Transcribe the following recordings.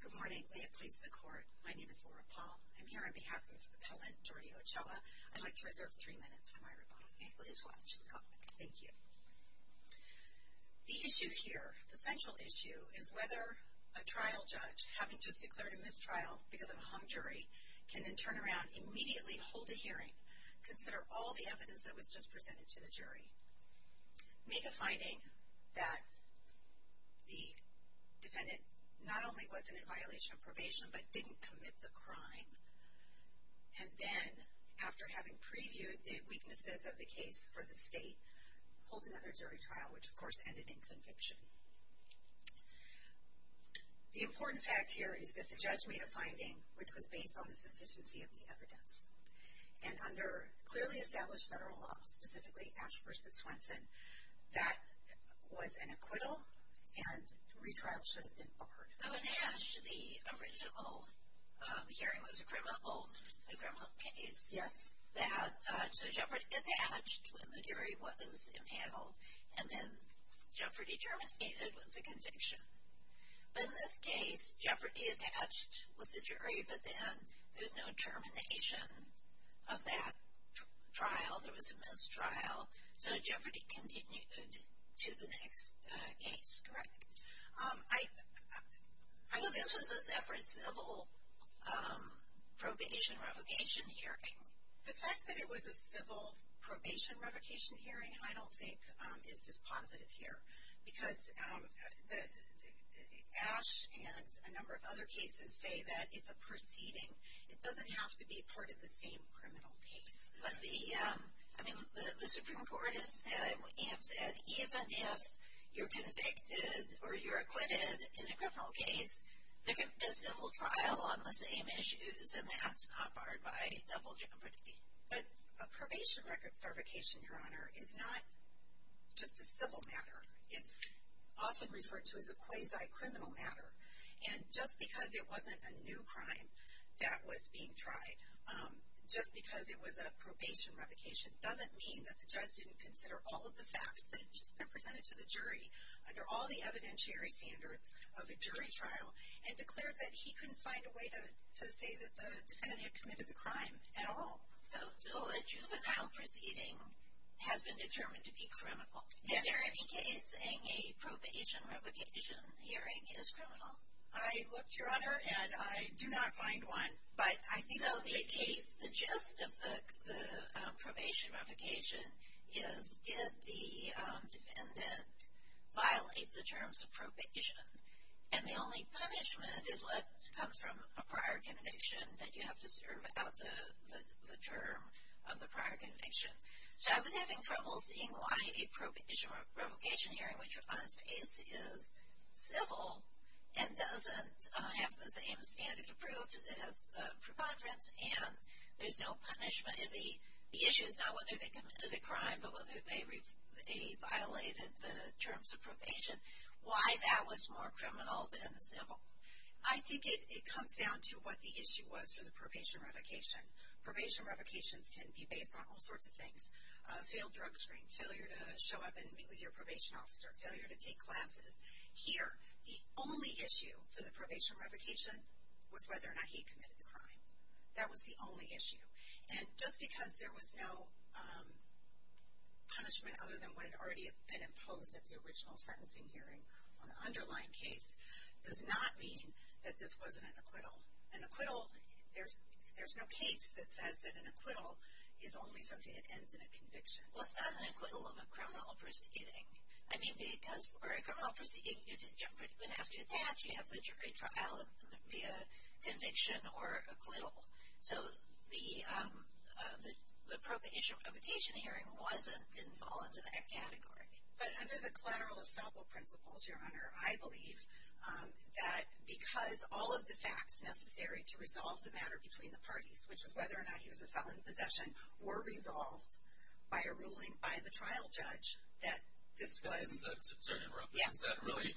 Good morning. May it please the Court, my name is Laura Paul. I'm here on behalf of Appellant Jordy Ochoa. I'd like to reserve three minutes for my rebuttal. The issue here, the central issue, is whether a trial judge, having just declared a mistrial because of a hung jury, can then turn around, immediately hold a hearing, consider all the defendants, not only was it in violation of probation, but didn't commit the crime. And then, after having previewed the weaknesses of the case for the state, hold another jury trial, which of course ended in conviction. The important fact here is that the judge made a finding which was based on the sufficiency of the evidence. And under clearly established federal law, specifically Ash v. Swenson, that was an acquittal, and retrial should have been barred. So in Ash, the original hearing was a criminal case. So jeopardy attached when the jury was impaled, and then jeopardy terminated with the conviction. But in this case, jeopardy attached with the jury, but then there was no termination of that trial. There was a mistrial, so jeopardy continued to the next case, correct? I know this was a separate civil probation revocation hearing. The fact that it was a civil probation revocation hearing, I don't think, is dispositive here. Because Ash and a number of other cases say that it's a proceeding. It doesn't have to be part of the same criminal case. But the Supreme Court has said, even if you're convicted or you're acquitted in a criminal case, there can be a civil trial on the same issues, and that's not barred by double jeopardy. But a probation revocation, Your Honor, is not just a civil matter. It's often referred to as a quasi-criminal matter. And just because it wasn't a new crime that was being tried, just because it was a probation revocation, doesn't mean that the judge didn't consider all of the facts that had just been presented to the jury, under all the evidentiary standards of a jury trial, and declared that he couldn't find a way to say that the defendant had committed the crime at all. So a juvenile proceeding has been determined to be criminal. Is there any case saying a probation revocation hearing is criminal? I looked, Your Honor, and I do not find one. So the gist of the probation revocation is, did the defendant violate the terms of probation? And the only punishment is what comes from a prior conviction, that you have to serve out the term of the prior conviction. So I was having trouble seeing why a probation revocation hearing, which, on its face, is civil, and doesn't have the same standard of proof as the preponderance, and there's no punishment. The issue is not whether they committed a crime, but whether they violated the terms of probation. Why that was more criminal than civil. I think it comes down to what the issue was for the probation revocation. Probation revocations can be based on all sorts of things. A failed drug screen, failure to show up and meet with your probation officer, failure to take classes. Here, the only issue for the probation revocation was whether or not he committed the crime. That was the only issue. And just because there was no punishment other than what had already been imposed at the original sentencing hearing on the underlying case, does not mean that this wasn't an acquittal. An acquittal, there's no case that says that an acquittal is only something that ends in a conviction. Well, it's not an acquittal of a criminal proceeding. I mean, because for a criminal proceeding, you're pretty good after that. You have the jury trial via conviction or acquittal. So the probation hearing didn't fall into that category. But under the collateral estoppel principles, Your Honor, I believe that because all of the facts necessary to resolve the matter between the parties, which is whether or not he was a felon in possession, were resolved by a ruling by the trial judge that this was. Yes. Is that really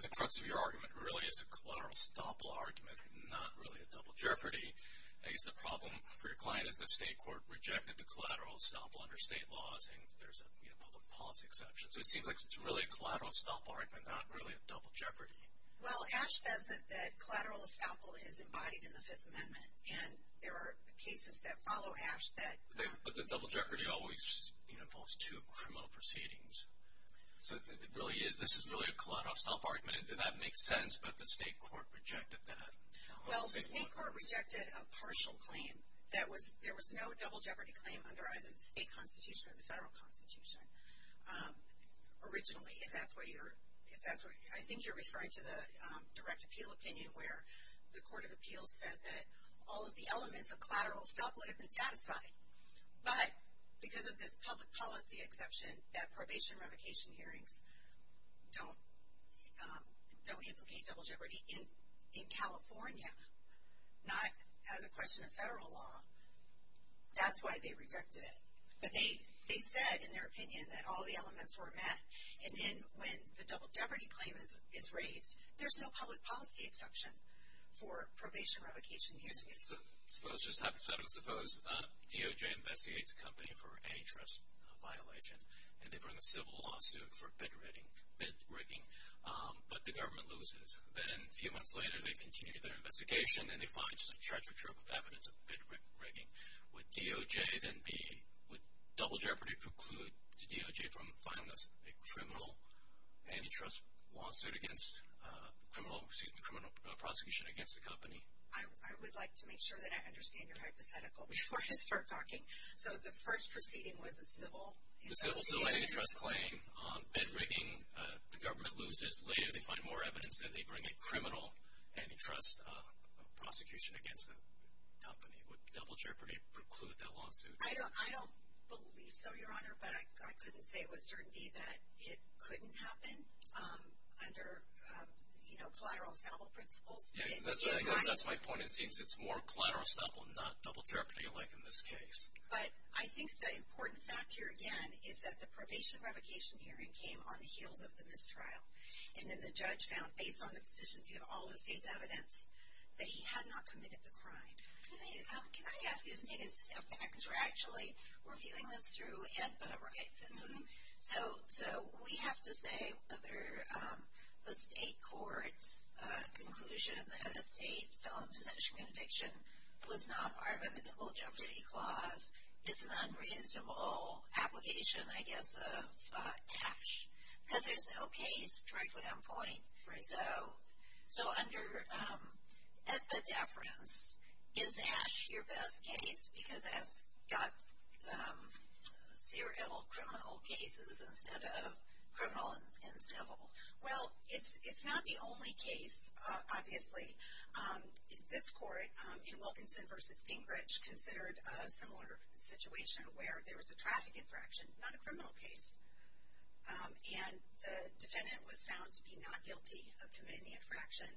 the crux of your argument? It really is a collateral estoppel argument, not really a double jeopardy. I guess the problem for your client is the state court rejected the collateral estoppel under state laws and there's a public policy exception. So it seems like it's really a collateral estoppel argument, not really a double jeopardy. Well, Ash says that collateral estoppel is embodied in the Fifth Amendment. And there are cases that follow Ash that. But the double jeopardy always involves two criminal proceedings. So this is really a collateral estoppel argument. And did that make sense, but the state court rejected that? Well, the state court rejected a partial claim. There was no double jeopardy claim under either the state constitution or the federal constitution. Originally, if that's what you're, I think you're referring to the direct appeal opinion where the court of appeals said that all of the elements of collateral estoppel had been satisfied. But because of this public policy exception that probation revocation hearings don't implicate double jeopardy. In California, not as a question of federal law, that's why they rejected it. But they said in their opinion that all the elements were met. And then when the double jeopardy claim is raised, there's no public policy exception for probation revocation hearings. Suppose DOJ investigates a company for antitrust violation, and they bring a civil lawsuit for bid rigging, but the government loses. Then a few months later, they continue their investigation, and they find a treasure trove of evidence of bid rigging. Would DOJ then be, would double jeopardy preclude DOJ from filing a criminal antitrust lawsuit against, criminal prosecution against the company? I would like to make sure that I understand your hypothetical before I start talking. So the first proceeding was a civil investigation. A civil antitrust claim, bid rigging, the government loses. Later, they find more evidence that they bring a criminal antitrust prosecution against the company. Would double jeopardy preclude that lawsuit? I don't believe so, Your Honor. But I couldn't say with certainty that it couldn't happen under collateral estoppel principles. That's my point. It seems it's more collateral estoppel, not double jeopardy like in this case. But I think the important fact here, again, is that the probation revocation hearing came on the heels of the mistrial. And then the judge found, based on the sufficiency of all the state's evidence, that he had not committed the crime. Can I ask you to stand back? Because we're actually, we're viewing this through Ed, but all right. So we have to say whether the state court's conclusion that a state felon possession conviction was not part of a double jeopardy clause is an unreasonable application, I guess, of ASH. Because there's no case directly on point. So under epideference, is ASH your best case? Because it's got serial criminal cases instead of criminal and civil. Well, it's not the only case, obviously. This court in Wilkinson v. Gingrich considered a similar situation where there was a traffic infraction, not a criminal case. And the defendant was found to be not guilty of committing the infraction.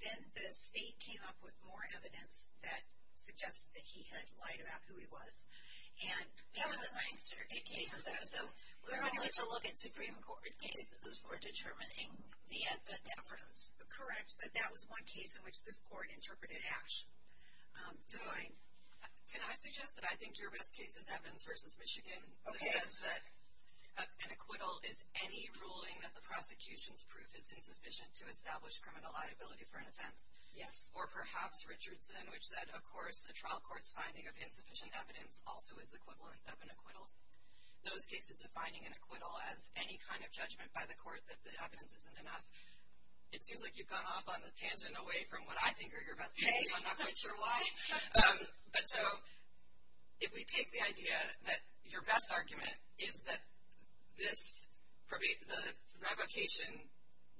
Then the state came up with more evidence that suggested that he had lied about who he was. And that was a thing in certain cases. So we're only to look at Supreme Court cases for determining the epideference. Correct, but that was one case in which this court interpreted ASH to lie. Can I suggest that I think your best case is Evans v. Michigan? Okay. It says that an acquittal is any ruling that the prosecution's proof is insufficient to establish criminal liability for an offense. Yes. Or perhaps Richardson, which said, of course, a trial court's finding of insufficient evidence also is equivalent of an acquittal. Those cases defining an acquittal as any kind of judgment by the court that the evidence isn't enough, it seems like you've gone off on a tangent away from what I think are your best cases. I'm not quite sure why. But so if we take the idea that your best argument is that the revocation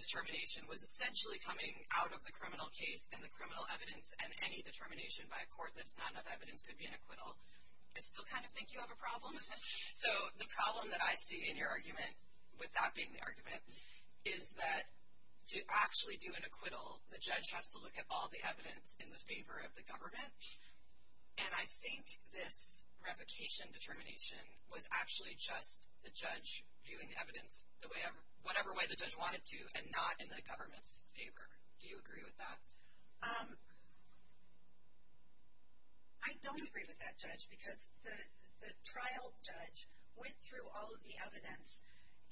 determination was essentially coming out of the criminal case and the criminal evidence and any determination by a court that it's not enough evidence could be an acquittal, I still kind of think you have a problem with it. So the problem that I see in your argument, with that being the argument, is that to actually do an acquittal, the judge has to look at all the evidence in the favor of the government. And I think this revocation determination was actually just the judge viewing the evidence whatever way the judge wanted to and not in the government's favor. Do you agree with that? I don't agree with that, Judge, because the trial judge went through all of the evidence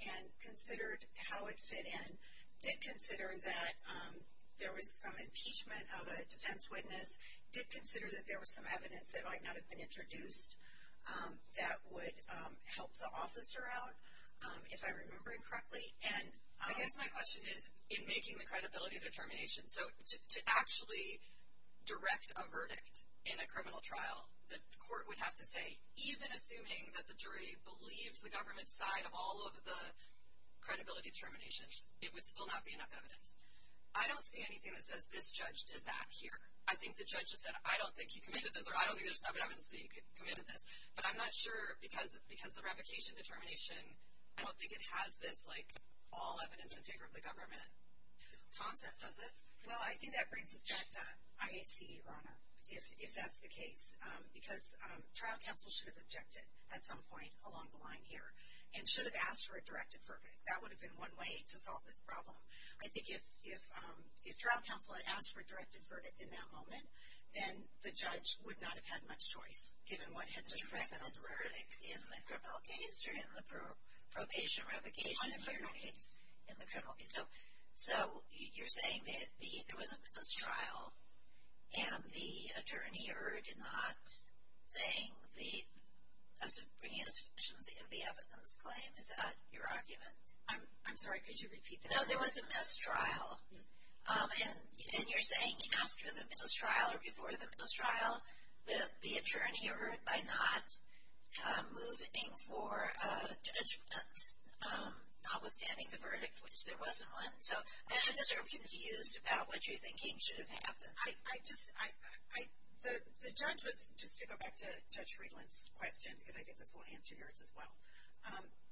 and considered how it fit in, did consider that there was some impeachment of a defense witness, did consider that there was some evidence that might not have been introduced that would help the officer out, if I remember it correctly. I guess my question is, in making the credibility determination, so to actually direct a verdict in a criminal trial, the court would have to say, even assuming that the jury believed the government's side of all of the credibility determinations, it would still not be enough evidence. I don't see anything that says this judge did that here. I think the judge just said, I don't think he committed this, or I don't think there's enough evidence that he committed this. But I'm not sure, because the revocation determination, I don't think it has this, like, all evidence in favor of the government concept, does it? Well, I think that brings us back to IAC, Ronna, if that's the case. Because trial counsel should have objected at some point along the line here, and should have asked for a directed verdict. That would have been one way to solve this problem. I think if trial counsel had asked for a directed verdict in that moment, then the judge would not have had much choice, given what had just happened. A direct verdict in the criminal case or in the probation revocation case? In the criminal case. In the criminal case. So, you're saying that there was a mistrial, and the attorney erred in not saying the subpoena sufficiency of the evidence claim. Is that your argument? I'm sorry, could you repeat that? No, there was a mistrial. And you're saying after the mistrial or before the mistrial, the attorney erred by not moving for judgment, notwithstanding the verdict, which there wasn't one. So, I'm just sort of confused about what you're thinking should have happened. The judge was, just to go back to Judge Friedland's question, because I think this will answer yours as well,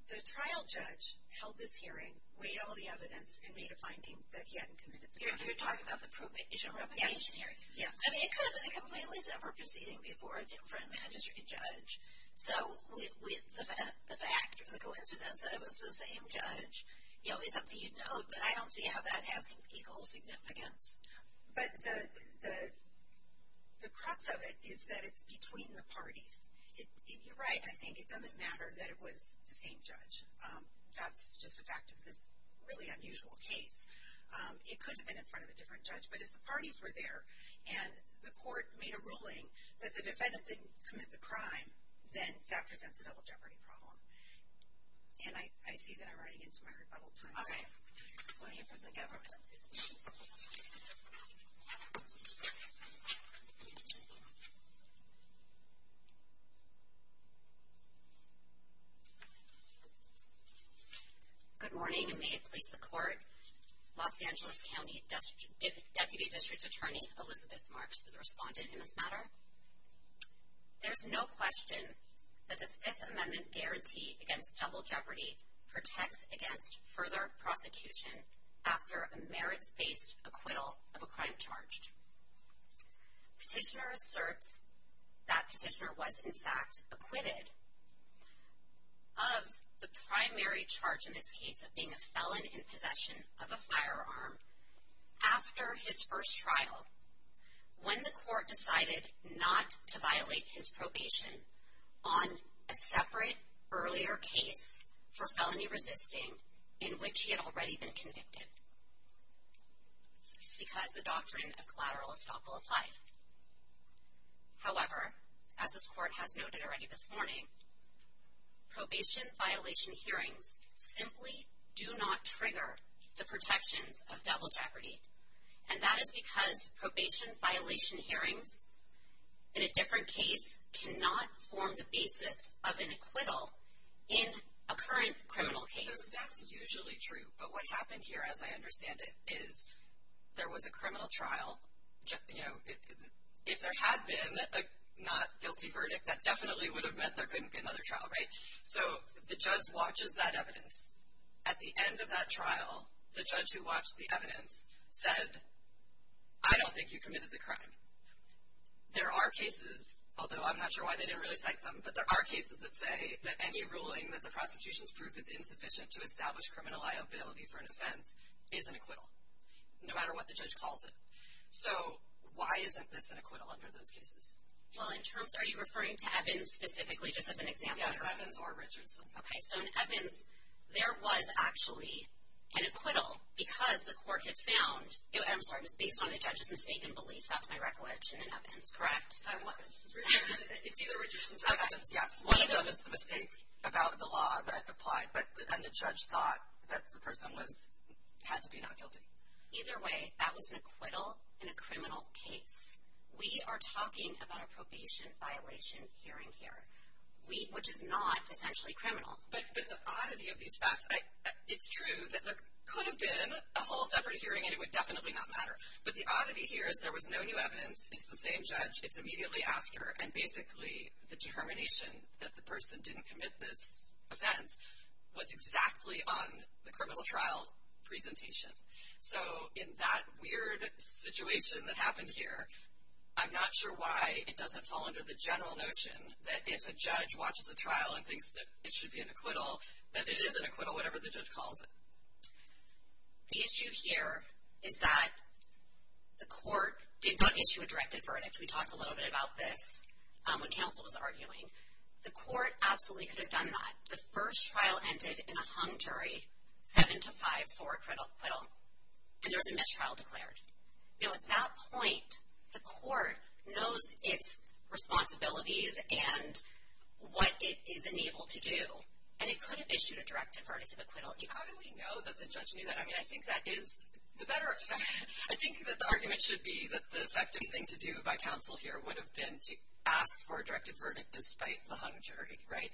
the trial judge held this hearing, weighed all the evidence, and made a finding that he hadn't committed the crime. You're talking about the probation revocation hearing? I mean, it could have been a completely separate proceeding before a different magistrate judge. So, the fact or the coincidence that it was the same judge is something you'd note, but I don't see how that has equal significance. But the crux of it is that it's between the parties. You're right, I think it doesn't matter that it was the same judge. That's just a fact of this really unusual case. It could have been in front of a different judge, but if the parties were there, and the court made a ruling that the defendant didn't commit the crime, then that presents a double jeopardy problem. And I see that I'm running into my rebuttal time. Okay. Good morning, and may it please the court, Los Angeles County Deputy District Attorney Elizabeth Marks, the respondent in this matter. There's no question that the Fifth Amendment guarantee against double jeopardy protects against further prosecution after a merits-based acquittal of a crime charged. Petitioner asserts that petitioner was, in fact, acquitted of the primary charge in this case of being a felon in possession of a firearm after his first trial when the court decided not to violate his probation on a separate earlier case for felony resisting in which he had already been convicted because the doctrine of collateral estoppel applied. However, as this court has noted already this morning, probation violation hearings simply do not trigger the protections of double jeopardy, and that is because probation violation hearings in a different case cannot form the basis of an acquittal in a current criminal case. That's usually true, but what happened here, as I understand it, is there was a criminal trial. If there had been a not guilty verdict, that definitely would have meant there couldn't be another trial, right? So the judge watches that evidence. At the end of that trial, the judge who watched the evidence said, I don't think you committed the crime. There are cases, although I'm not sure why they didn't really cite them, but there are cases that say that any ruling that the prosecution's proof is insufficient to establish criminal liability for an offense is an acquittal, no matter what the judge calls it. So why isn't this an acquittal under those cases? Well, in terms of, are you referring to Evans specifically, just as an example? Yes, Evans or Richardson. Okay, so in Evans, there was actually an acquittal because the court had found, I'm sorry, it was based on the judge's mistaken belief, that's my recollection, in Evans, correct? It's either Richardson's or Evans', yes. One of them is the mistake about the law that applied, and the judge thought that the person had to be not guilty. Either way, that was an acquittal in a criminal case. We are talking about a probation violation hearing here, which is not essentially criminal. But the oddity of these facts, it's true that there could have been a whole separate hearing and it would definitely not matter, but the oddity here is there was no new evidence, it's the same judge, it's immediately after, and basically the determination that the person didn't commit this offense was exactly on the criminal trial presentation. So in that weird situation that happened here, I'm not sure why it doesn't fall under the general notion that if a judge watches a trial and thinks that it should be an acquittal, that it is an acquittal, whatever the judge calls it. The issue here is that the court did not issue a directed verdict. We talked a little bit about this when counsel was arguing. The court absolutely could have done that. The first trial ended in a hung jury, 7-5 for acquittal, and there was a mistrial declared. At that point, the court knows its responsibilities and what it is unable to do, and it could have issued a directed verdict of acquittal. You probably know that the judge knew that. I mean, I think that is the better effect. I think that the argument should be that the effective thing to do by counsel here would have been to ask for a directed verdict despite the hung jury, right?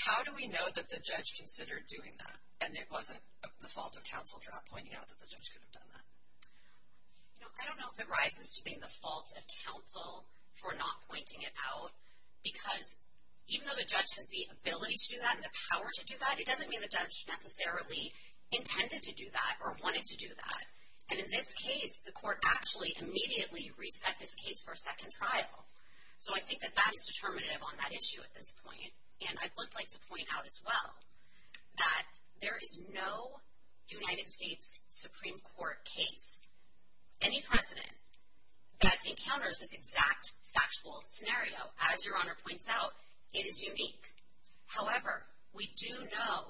How do we know that the judge considered doing that and it wasn't the fault of counsel for not pointing out that the judge could have done that? I don't know if it rises to being the fault of counsel for not pointing it out, because even though the judge has the ability to do that and the power to do that, it doesn't mean the judge necessarily intended to do that or wanted to do that. And in this case, the court actually immediately reset this case for a second trial. So I think that that is determinative on that issue at this point, and I would like to point out as well that there is no United States Supreme Court case, any precedent, that encounters this exact factual scenario. As Your Honor points out, it is unique. However, we do know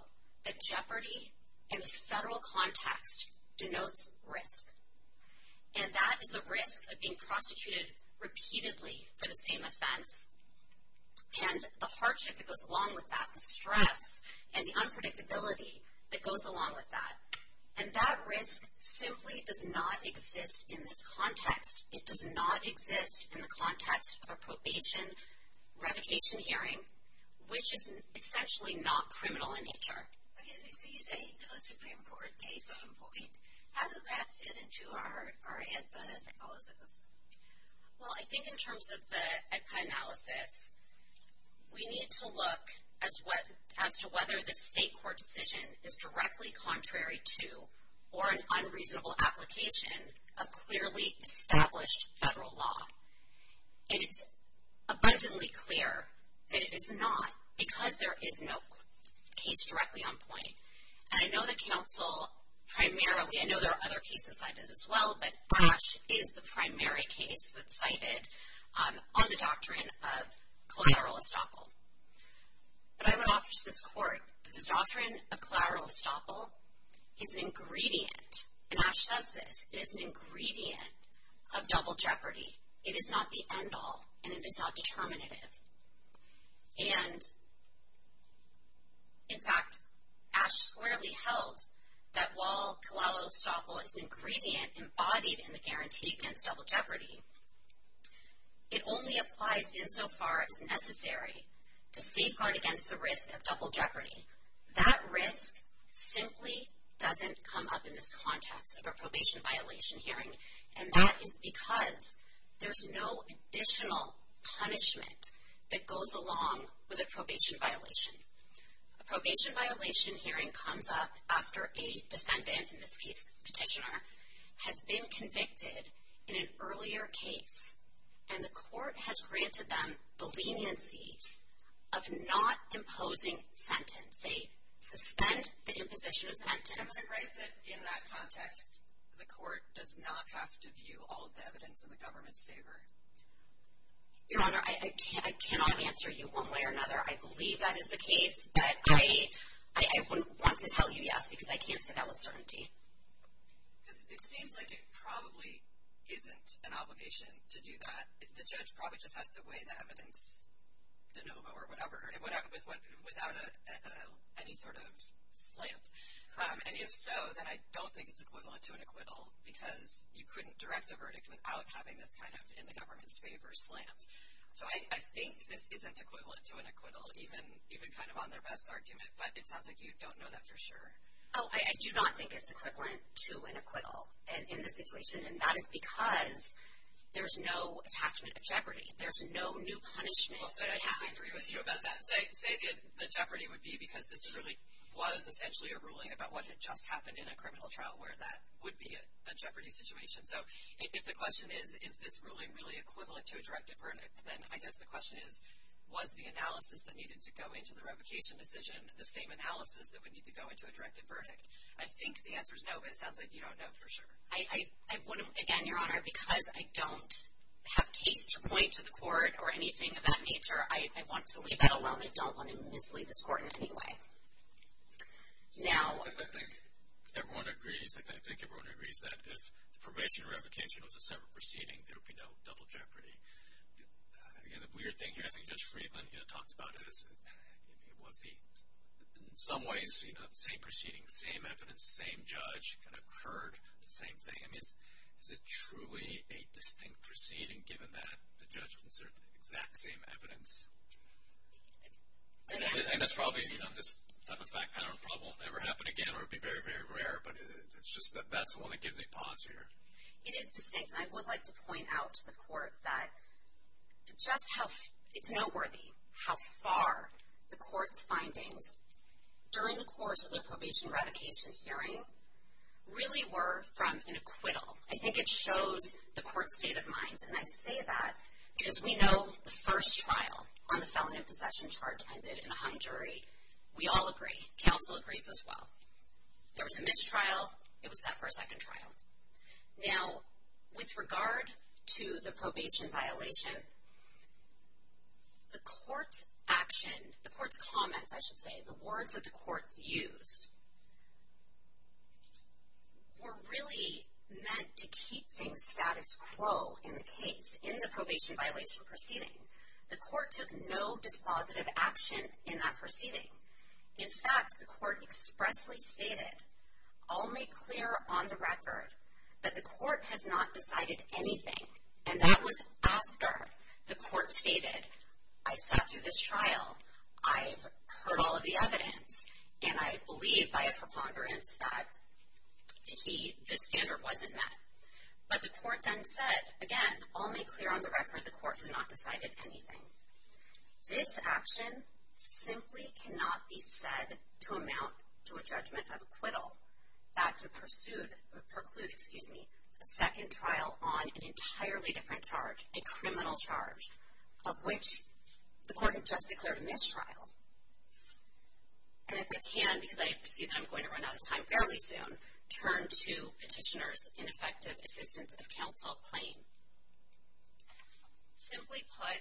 that jeopardy in the federal context denotes risk. And that is the risk of being prosecuted repeatedly for the same offense and the hardship that goes along with that, the stress and the unpredictability that goes along with that. And that risk simply does not exist in this context. It does not exist in the context of a probation revocation hearing, which is essentially not criminal in nature. Okay, so you say no Supreme Court case on point. How does that fit into our AEDPA analysis? Well, I think in terms of the AEDPA analysis, we need to look as to whether the state court decision is directly contrary to or an unreasonable application of clearly established federal law. And it's abundantly clear that it is not because there is no case directly on point. And I know that counsel primarily, I know there are other cases cited as well, but Ash is the primary case that's cited on the doctrine of collateral estoppel. But I would offer to this court that the doctrine of collateral estoppel is an ingredient, and Ash says this, it is an ingredient of double jeopardy. It is not the end all and it is not determinative. And in fact, Ash squarely held that while collateral estoppel is an ingredient embodied in the guarantee against double jeopardy, it only applies insofar as necessary to safeguard against the risk of double jeopardy. That risk simply doesn't come up in this context of a probation violation hearing, and that is because there's no additional punishment that goes along with a probation violation. A probation violation hearing comes up after a defendant, in this case petitioner, has been convicted in an earlier case, and the court has granted them the leniency of not imposing sentence. They suspend the imposition of sentence. Am I right that in that context, the court does not have to view all of the evidence in the government's favor? Your Honor, I cannot answer you one way or another. I believe that is the case, but I would want to tell you yes, because I can't say that with certainty. Because it seems like it probably isn't an obligation to do that. The judge probably just has to weigh the evidence de novo or whatever, without any sort of slant. And if so, then I don't think it's equivalent to an acquittal, because you couldn't direct a verdict without having this kind of in the government's favor slant. So I think this isn't equivalent to an acquittal, even kind of on their best argument, but it sounds like you don't know that for sure. Oh, I do not think it's equivalent to an acquittal in this situation, and that is because there's no attachment of jeopardy. There's no new punishment that I have. Well, say I disagree with you about that. Say the jeopardy would be because this really was essentially a ruling about what had just happened in a criminal trial where that would be a jeopardy situation. So if the question is, is this ruling really equivalent to a directive verdict, then I guess the question is, was the analysis that needed to go into the revocation decision the same analysis that would need to go into a directive verdict? I think the answer is no, but it sounds like you don't know for sure. Again, Your Honor, because I don't have case to point to the court or anything of that nature, I want to leave that alone. I don't want to mislead this court in any way. Now. I think everyone agrees that if the probation revocation was a separate proceeding, there would be no double jeopardy. Again, the weird thing here, I think Judge Friedland talked about it, was in some ways the same proceeding, same evidence, same judge kind of heard the same thing. I mean, is it truly a distinct proceeding given that the judge inserted the exact same evidence? And that's probably, you know, this type of fact pattern probably won't ever happen again or it would be very, very rare, but it's just that that's the one that gives me pause here. It is distinct. I would like to point out to the court that just how it's noteworthy how far the court's findings during the course of the probation revocation hearing really were from an acquittal. I think it shows the court's state of mind. And I say that because we know the first trial on the felon in possession charge ended in a hung jury. We all agree. Counsel agrees as well. There was a mistrial. It was set for a second trial. Now, with regard to the probation violation, the court's action, the court's comments, I should say, the words that the court used were really meant to keep things status quo in the case, in the probation violation proceeding. The court took no dispositive action in that proceeding. In fact, the court expressly stated, I'll make clear on the record, that the court has not decided anything. And that was after the court stated, I sat through this trial, I've heard all of the evidence, and I believe by a preponderance that the standard wasn't met. But the court then said, again, I'll make clear on the record, the court has not decided anything. This action simply cannot be said to amount to a judgment of acquittal that could preclude a second trial on an entirely different charge, a criminal charge, of which the court had just declared a mistrial. And if I can, because I see that I'm going to run out of time fairly soon, turn to Petitioner's ineffective assistance of counsel claim. Simply put,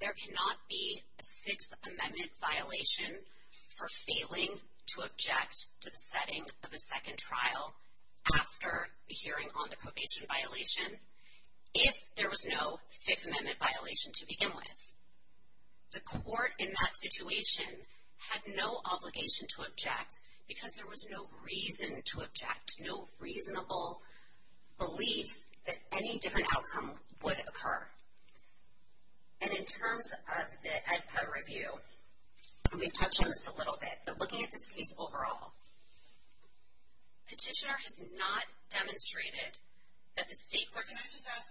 there cannot be a Sixth Amendment violation for failing to object to the setting of a second trial after the hearing on the probation violation if there was no Fifth Amendment violation to begin with. The court in that situation had no obligation to object because there was no reason to object, no reasonable belief that any different outcome would occur. And in terms of the AEDPA review, and we've touched on this a little bit, but looking at this case overall, Petitioner has not demonstrated that the state court has... But can I just ask,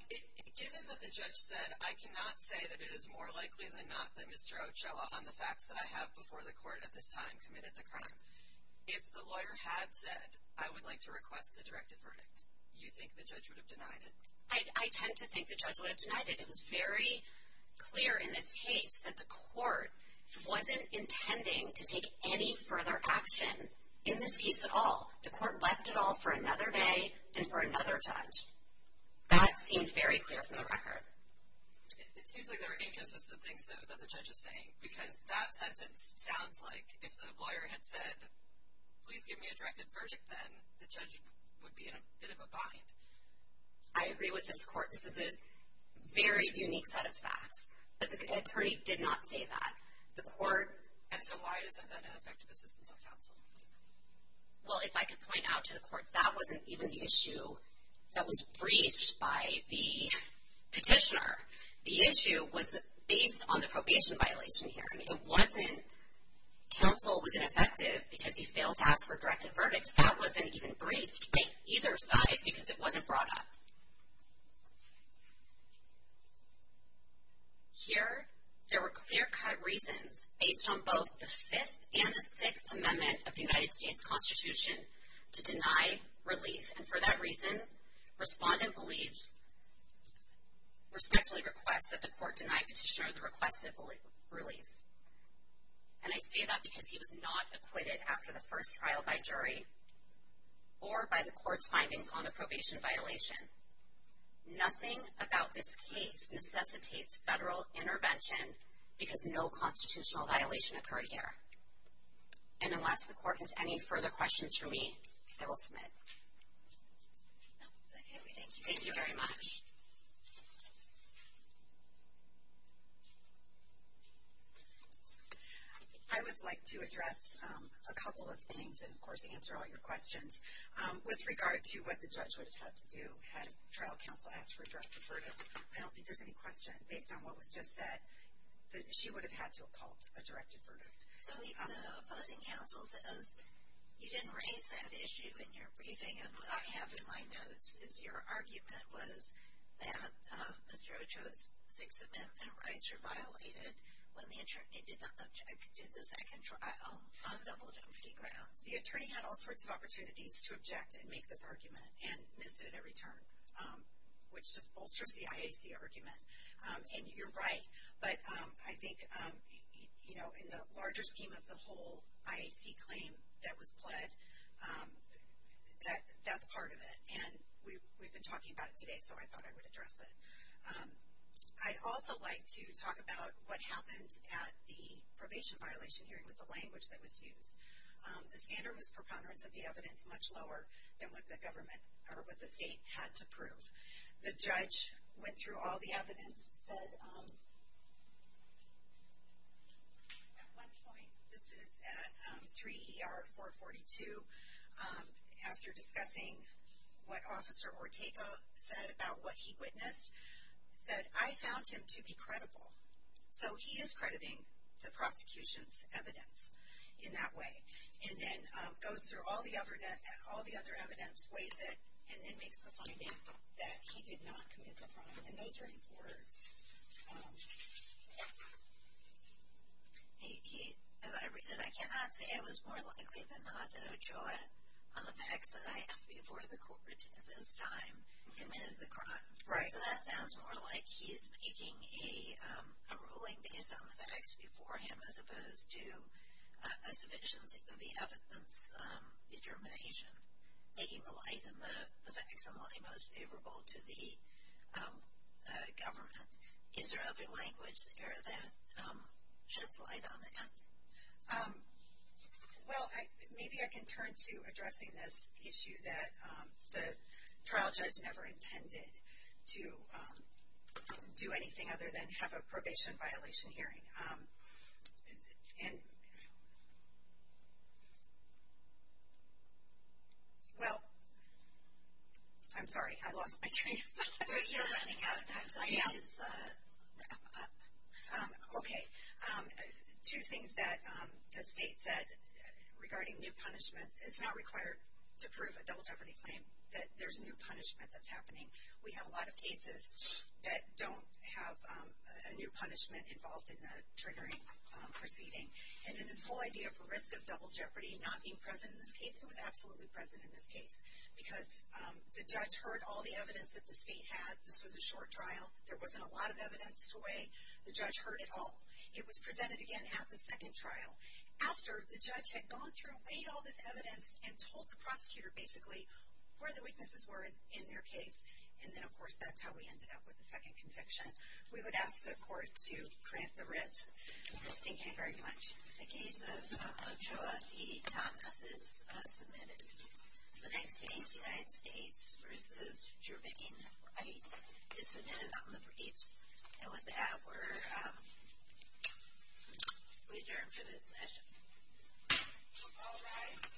given that the judge said, I cannot say that it is more likely than not that Mr. Occella, on the facts that I have before the court at this time, committed the crime. If the lawyer had said, I would like to request a directed verdict, you think the judge would have denied it? I tend to think the judge would have denied it. It was very clear in this case that the court wasn't intending to take any further action in this case at all. The court left it all for another day and for another judge. That seemed very clear from the record. It seems like there are inconsistent things that the judge is saying, because that sentence sounds like if the lawyer had said, please give me a directed verdict, then the judge would be in a bit of a bind. I agree with this court. This is a very unique set of facts. But the attorney did not say that. The court... And so why isn't that an effective assistance on counsel? Well, if I could point out to the court, that wasn't even the issue that was briefed by the petitioner. The issue was based on the probation violation here. It wasn't counsel was ineffective because he failed to ask for a directed verdict. So that wasn't even briefed by either side because it wasn't brought up. Here, there were clear-cut reasons based on both the Fifth and the Sixth Amendment of the United States Constitution to deny relief. And for that reason, respondent respectfully requests that the court deny petitioner the request of relief. And I say that because he was not acquitted after the first trial by jury or by the court's findings on the probation violation. Nothing about this case necessitates federal intervention because no constitutional violation occurred here. And unless the court has any further questions for me, I will submit. Thank you very much. I would like to address a couple of things and, of course, answer all your questions. With regard to what the judge would have had to do had trial counsel asked for a directed verdict, I don't think there's any question based on what was just said that she would have had to have called a directed verdict. So even though opposing counsel says you didn't raise that issue in your briefing, and what I have in my notes is your argument was that Mr. Ochoa's Sixth Amendment rights were violated when the attorney did the second trial on double jeopardy grounds. The attorney had all sorts of opportunities to object and make this argument and missed it at every turn, which just bolsters the IAC argument. And you're right, but I think, you know, in the larger scheme of the whole, IAC claim that was pled, that's part of it. And we've been talking about it today, so I thought I would address it. I'd also like to talk about what happened at the probation violation hearing with the language that was used. The standard was preponderance of the evidence much lower than what the government or what the state had to prove. The judge went through all the evidence, said at one point, this is at 3 ER 442, after discussing what Officer Ortega said about what he witnessed, said, I found him to be credible. So he is crediting the prosecution's evidence in that way, and then goes through all the other evidence, weighs it, and then makes the finding that he did not commit the crime. And those are his words. He, as I read it, I cannot say it was more likely than not that Ochoa, on the facts that I have before the court at this time, committed the crime. Right. So that sounds more like he's making a ruling based on the facts before him, as opposed to a sufficiency of the evidence determination, taking the light and the facts that are most favorable to the government. Is there other language there that sheds light on that? Well, maybe I can turn to addressing this issue that the trial judge never intended to do anything other than have a probation violation hearing. And, well, I'm sorry, I lost my train of thought. You're running out of time, so I need to wrap up. Okay. Two things that the state said regarding new punishment. It's not required to prove a double jeopardy claim that there's a new punishment that's happening. We have a lot of cases that don't have a new punishment involved in the triggering proceeding. And then this whole idea for risk of double jeopardy not being present in this case, it was absolutely present in this case. Because the judge heard all the evidence that the state had. This was a short trial. There wasn't a lot of evidence to weigh. The judge heard it all. It was presented again at the second trial. After the judge had gone through, weighed all this evidence, and told the prosecutor, basically, where the weaknesses were in their case. And then, of course, that's how we ended up with the second conviction. We would ask the court to grant the writ. Thank you very much. The case of Ochoa E. Thomas is submitted. The next case, United States v. Jermaine Wright, is submitted on the briefs. And with that, we're adjourned for this session. All rise.